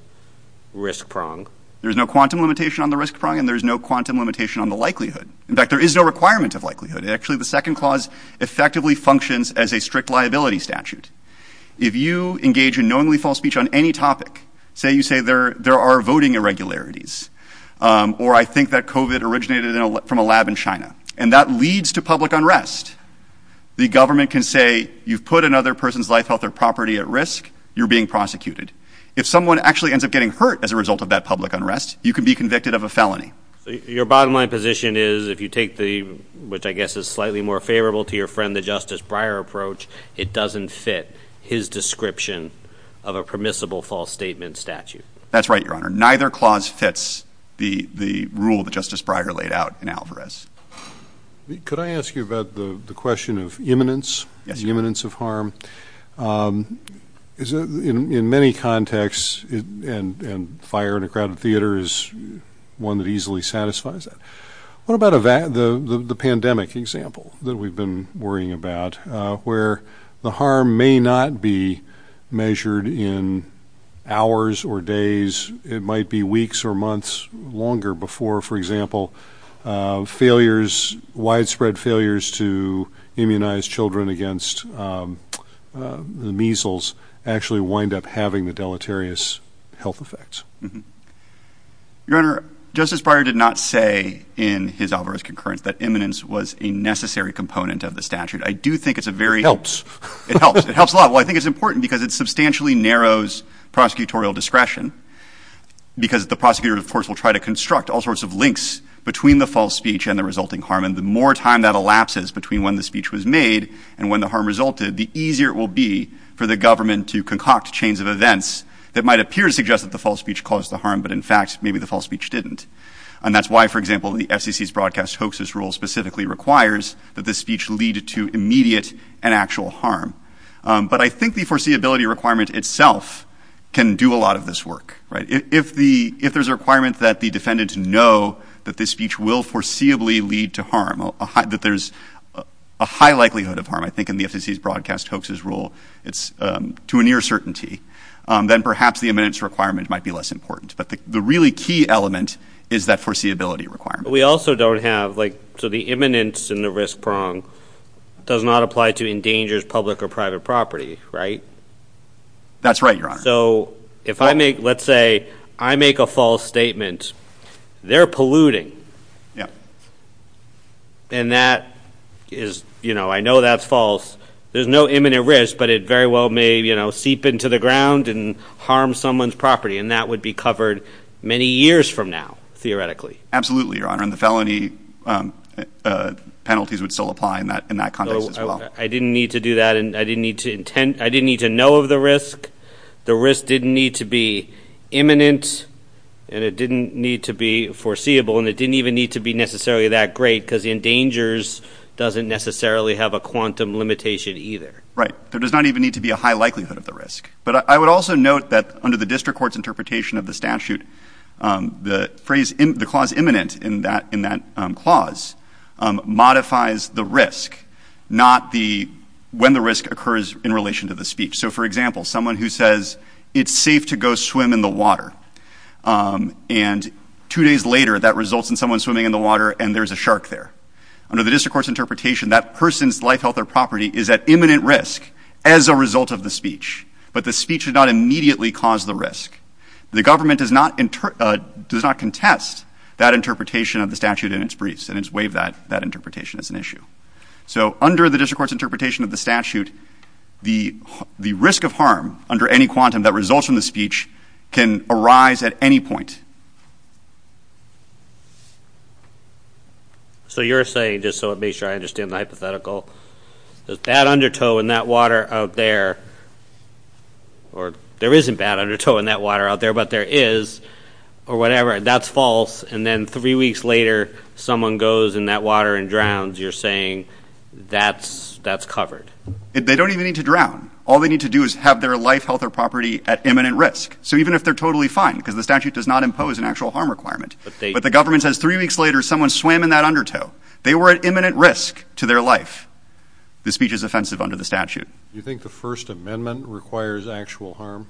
risk prong. There's no quantum limitation on the risk prong and there's no quantum limitation on the likelihood. In fact, there is no requirement of likelihood. Actually, the second clause effectively functions as a strict liability statute. If you engage in knowingly false speech on any topic, say you say there there are voting irregularities. Or I think that covid originated from a lab in China and that leads to public unrest. The government can say you've put another person's life, health or property at risk. You're being prosecuted. If someone actually ends up getting hurt as a result of that public unrest, you can be convicted of a felony. Your bottom line position is if you take the which I guess is slightly more favorable to your friend, the Justice Breyer approach. It doesn't fit his description of a permissible false statement statute. That's right, Your Honor. Neither clause fits the the rule that Justice Breyer laid out in Alvarez. Could I ask you about the question of imminence? Yes. The imminence of harm is in many contexts and fire in a crowded theater is one that easily satisfies. What about the pandemic example that we've been worrying about where the harm may not be measured in hours or days? It might be weeks or months longer before, for example, failures, widespread failures to immunize children against the measles actually wind up having the deleterious health effects. Your Honor, Justice Breyer did not say in his Alvarez concurrence that imminence was a necessary component of the statute. I do think it's a very helps. It helps. It helps a lot. Well, I think it's important because it substantially narrows prosecutorial discretion because the prosecutor, of course, will try to construct all sorts of links between the false speech and the resulting harm. And the more time that elapses between when the speech was made and when the harm resulted, the easier it will be for the government to concoct chains of events that might appear to suggest that the false speech caused the harm. But in fact, maybe the false speech didn't. And that's why, for example, the FCC's broadcast hoaxes rule specifically requires that the speech lead to immediate and actual harm. But I think the foreseeability requirement itself can do a lot of this work. Right. If the if there's a requirement that the defendants know that this speech will foreseeably lead to harm, that there's a high likelihood of harm, I think, in the FCC's broadcast hoaxes rule, it's to a near certainty, then perhaps the imminence requirement might be less important. But the really key element is that foreseeability requirement. We also don't have like so the imminence in the risk prong does not apply to endangers public or private property, right? That's right, Your Honor. So if I make let's say I make a false statement, they're polluting. Yeah. And that is, you know, I know that's false. There's no imminent risk, but it very well may, you know, seep into the ground and harm someone's property. And that would be covered many years from now, theoretically. Absolutely, Your Honor. And the felony penalties would still apply in that in that context as well. I didn't need to do that, and I didn't need to intend I didn't need to know of the risk. The risk didn't need to be imminent, and it didn't need to be foreseeable, and it didn't even need to be necessarily that great because endangers doesn't necessarily have a quantum limitation either. Right. There does not even need to be a high likelihood of the risk. But I would also note that under the district court's interpretation of the statute, the phrase in the clause imminent in that in that clause modifies the risk, not the when the risk occurs in relation to the speech. So, for example, someone who says it's safe to go swim in the water. And two days later, that results in someone swimming in the water and there's a shark there. Under the district court's interpretation, that person's life, health or property is at imminent risk as a result of the speech. But the speech did not immediately cause the risk. The government does not does not contest that interpretation of the statute in its briefs, and it's waived that interpretation as an issue. So under the district court's interpretation of the statute, the risk of harm under any quantum that results from the speech can arise at any point. So you're saying, just so it makes sure I understand the hypothetical, there's bad undertow in that water out there or there isn't bad undertow in that water out there, but there is or whatever. That's false. And then three weeks later, someone goes in that water and drowns. You're saying that's that's covered. They don't even need to drown. All they need to do is have their life, health or property at imminent risk. So even if they're totally fine because the statute does not impose an actual harm requirement, but the government says three weeks later someone swam in that undertow, they were at imminent risk to their life. The speech is offensive under the statute. You think the First Amendment requires actual harm?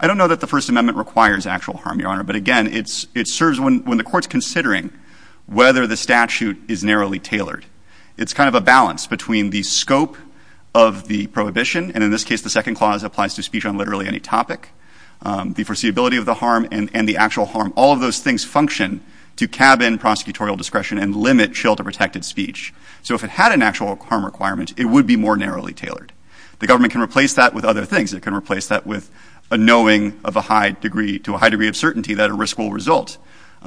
I don't know that the First Amendment requires actual harm, Your Honor. But again, it's it serves when when the court's considering whether the statute is narrowly tailored. It's kind of a balance between the scope of the prohibition. And in this case, the second clause applies to speech on literally any topic. The foreseeability of the harm and the actual harm, all of those things function to cabin prosecutorial discretion and limit shelter protected speech. So if it had an actual harm requirement, it would be more narrowly tailored. The government can replace that with other things. It can replace that with a knowing of a high degree to a high degree of certainty that a risk will result.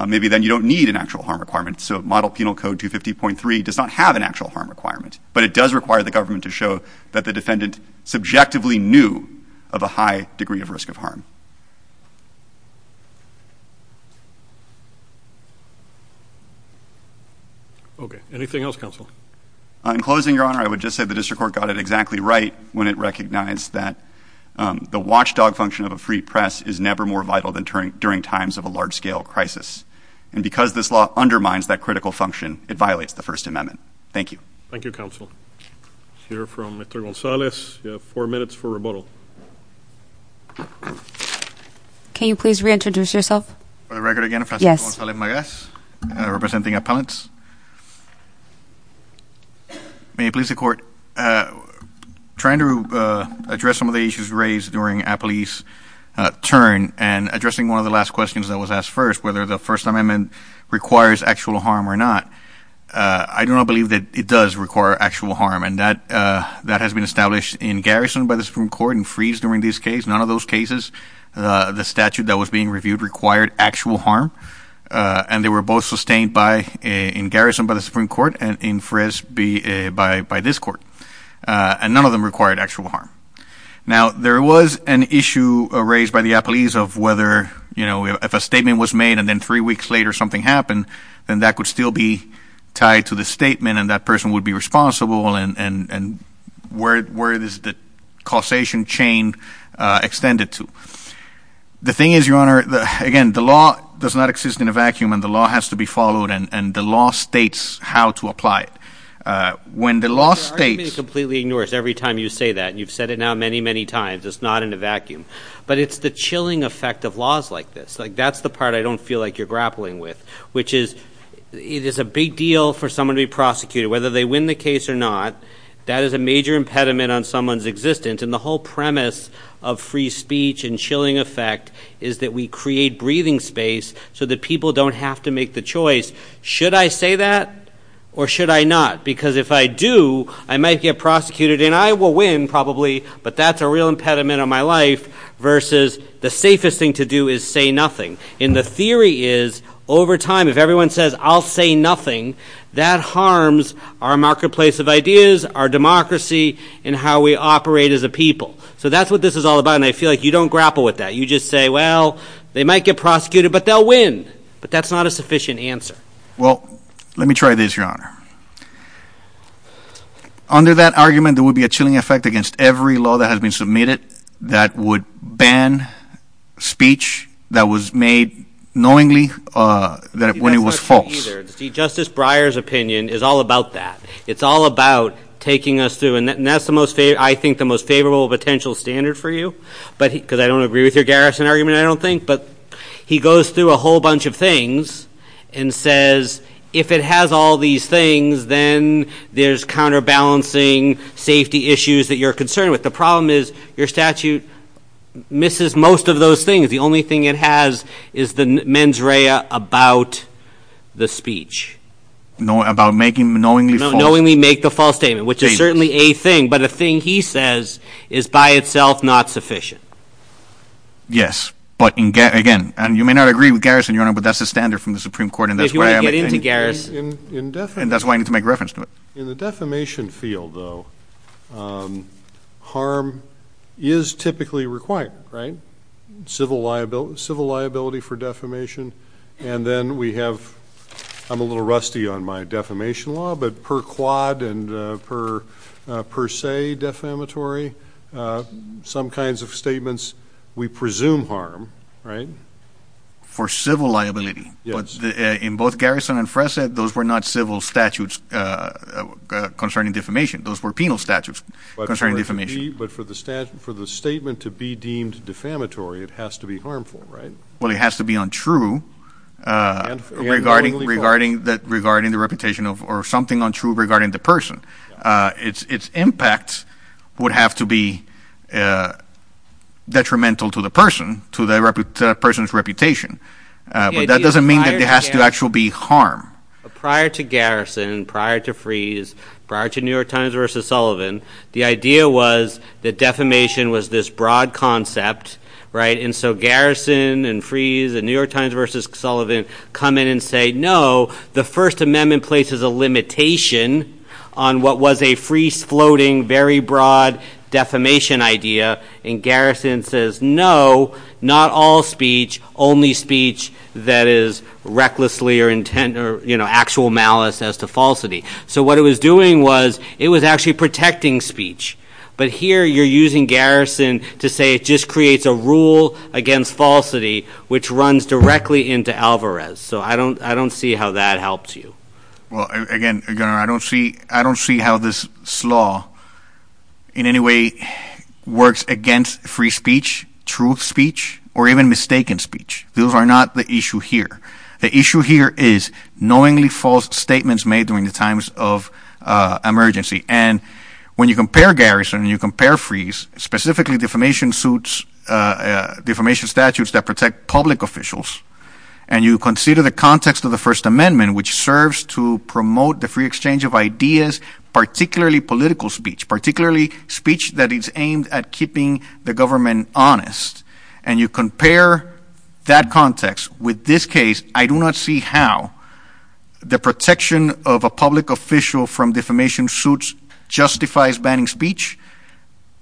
Maybe then you don't need an actual harm requirement. So Model Penal Code 250.3 does not have an actual harm requirement. But it does require the government to show that the defendant subjectively knew of a high degree of risk of harm. OK. Anything else, Counsel? In closing, Your Honor, I would just say the district court got it exactly right when it recognized that the watchdog function of a free press is never more vital than during times of a large scale crisis. And because this law undermines that critical function, it violates the First Amendment. Thank you. Thank you, Counsel. We'll hear from Mr. Gonzalez. You have four minutes for rebuttal. Can you please reintroduce yourself? For the record again, I'm Francisco Gonzalez Magas, representing appellants. May it please the Court. Trying to address some of the issues raised during a police turn and addressing one of the last questions that was asked first, whether the First Amendment requires actual harm or not, I do not believe that it does require actual harm. And that has been established in garrison by the Supreme Court and freeze during this case. None of those cases, the statute that was being reviewed, required actual harm. And they were both sustained in garrison by the Supreme Court and in freeze by this court. And none of them required actual harm. Now, there was an issue raised by the appellees of whether, you know, if a statement was made and then three weeks later something happened, then that could still be tied to the statement and that person would be responsible and where is the causation chain extended to? The thing is, Your Honor, again, the law does not exist in a vacuum and the law has to be followed and the law states how to apply it. When the law states- Your argument is completely ignores every time you say that. You've said it now many, many times. It's not in a vacuum. But it's the chilling effect of laws like this. Like, that's the part I don't feel like you're grappling with, which is it is a big deal for someone to be prosecuted. Whether they win the case or not, that is a major impediment on someone's existence. And the whole premise of free speech and chilling effect is that we create breathing space so that people don't have to make the choice, should I say that or should I not? Because if I do, I might get prosecuted and I will win probably, but that's a real impediment on my life versus the safest thing to do is say nothing. And the theory is, over time, if everyone says, I'll say nothing, that harms our marketplace of ideas, our democracy, and how we operate as a people. So that's what this is all about and I feel like you don't grapple with that. You just say, well, they might get prosecuted, but they'll win. But that's not a sufficient answer. Well, let me try this, Your Honor. Under that argument, there would be a chilling effect against every law that has been submitted that would ban speech that was made knowingly when it was false. Justice Breyer's opinion is all about that. It's all about taking us through, and that's the most, I think, the most favorable potential standard for you, because I don't agree with your Garrison argument, I don't think. But he goes through a whole bunch of things and says, if it has all these things, then there's counterbalancing, safety issues that you're concerned with. The problem is your statute misses most of those things. The only thing it has is the mens rea about the speech. About making knowingly false. Knowingly make the false statement, which is certainly a thing, but a thing he says is by itself not sufficient. Yes. But, again, you may not agree with Garrison, Your Honor, but that's the standard from the Supreme Court. If you want to get into Garrison. And that's why I need to make reference to it. In the defamation field, though, harm is typically required, right? Civil liability for defamation, and then we have, I'm a little rusty on my defamation law, but per quad and per se defamatory, some kinds of statements we presume harm, right? For civil liability. Yes. But in both Garrison and Fressa, those were not civil statutes concerning defamation. Those were penal statutes concerning defamation. But for the statement to be deemed defamatory, it has to be harmful, right? Well, it has to be untrue. And knowingly false. Regarding the reputation or something untrue regarding the person. Its impact would have to be detrimental to the person, to the person's reputation. But that doesn't mean that there has to actually be harm. Prior to Garrison, prior to Freese, prior to New York Times versus Sullivan, the idea was that defamation was this broad concept, right? On what was a Freese floating, very broad defamation idea. And Garrison says, no, not all speech, only speech that is recklessly or, you know, actual malice as to falsity. So what it was doing was it was actually protecting speech. But here you're using Garrison to say it just creates a rule against falsity, which runs directly into Alvarez. So I don't see how that helps you. Well, again, I don't see how this law in any way works against free speech, truth speech, or even mistaken speech. Those are not the issue here. The issue here is knowingly false statements made during the times of emergency. And when you compare Garrison and you compare Freese, specifically defamation suits, defamation statutes that protect public officials, and you consider the context of the First Amendment, which serves to promote the free exchange of ideas, particularly political speech, particularly speech that is aimed at keeping the government honest, and you compare that context with this case, I do not see how the protection of a public official from defamation suits justifies banning speech,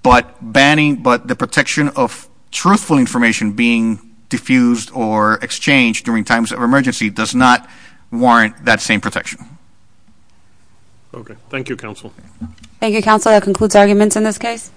but the protection of truthful information being diffused or exchanged during times of emergency does not warrant that same protection. Okay. Thank you, Counsel. Thank you, Counsel. That concludes arguments in this case.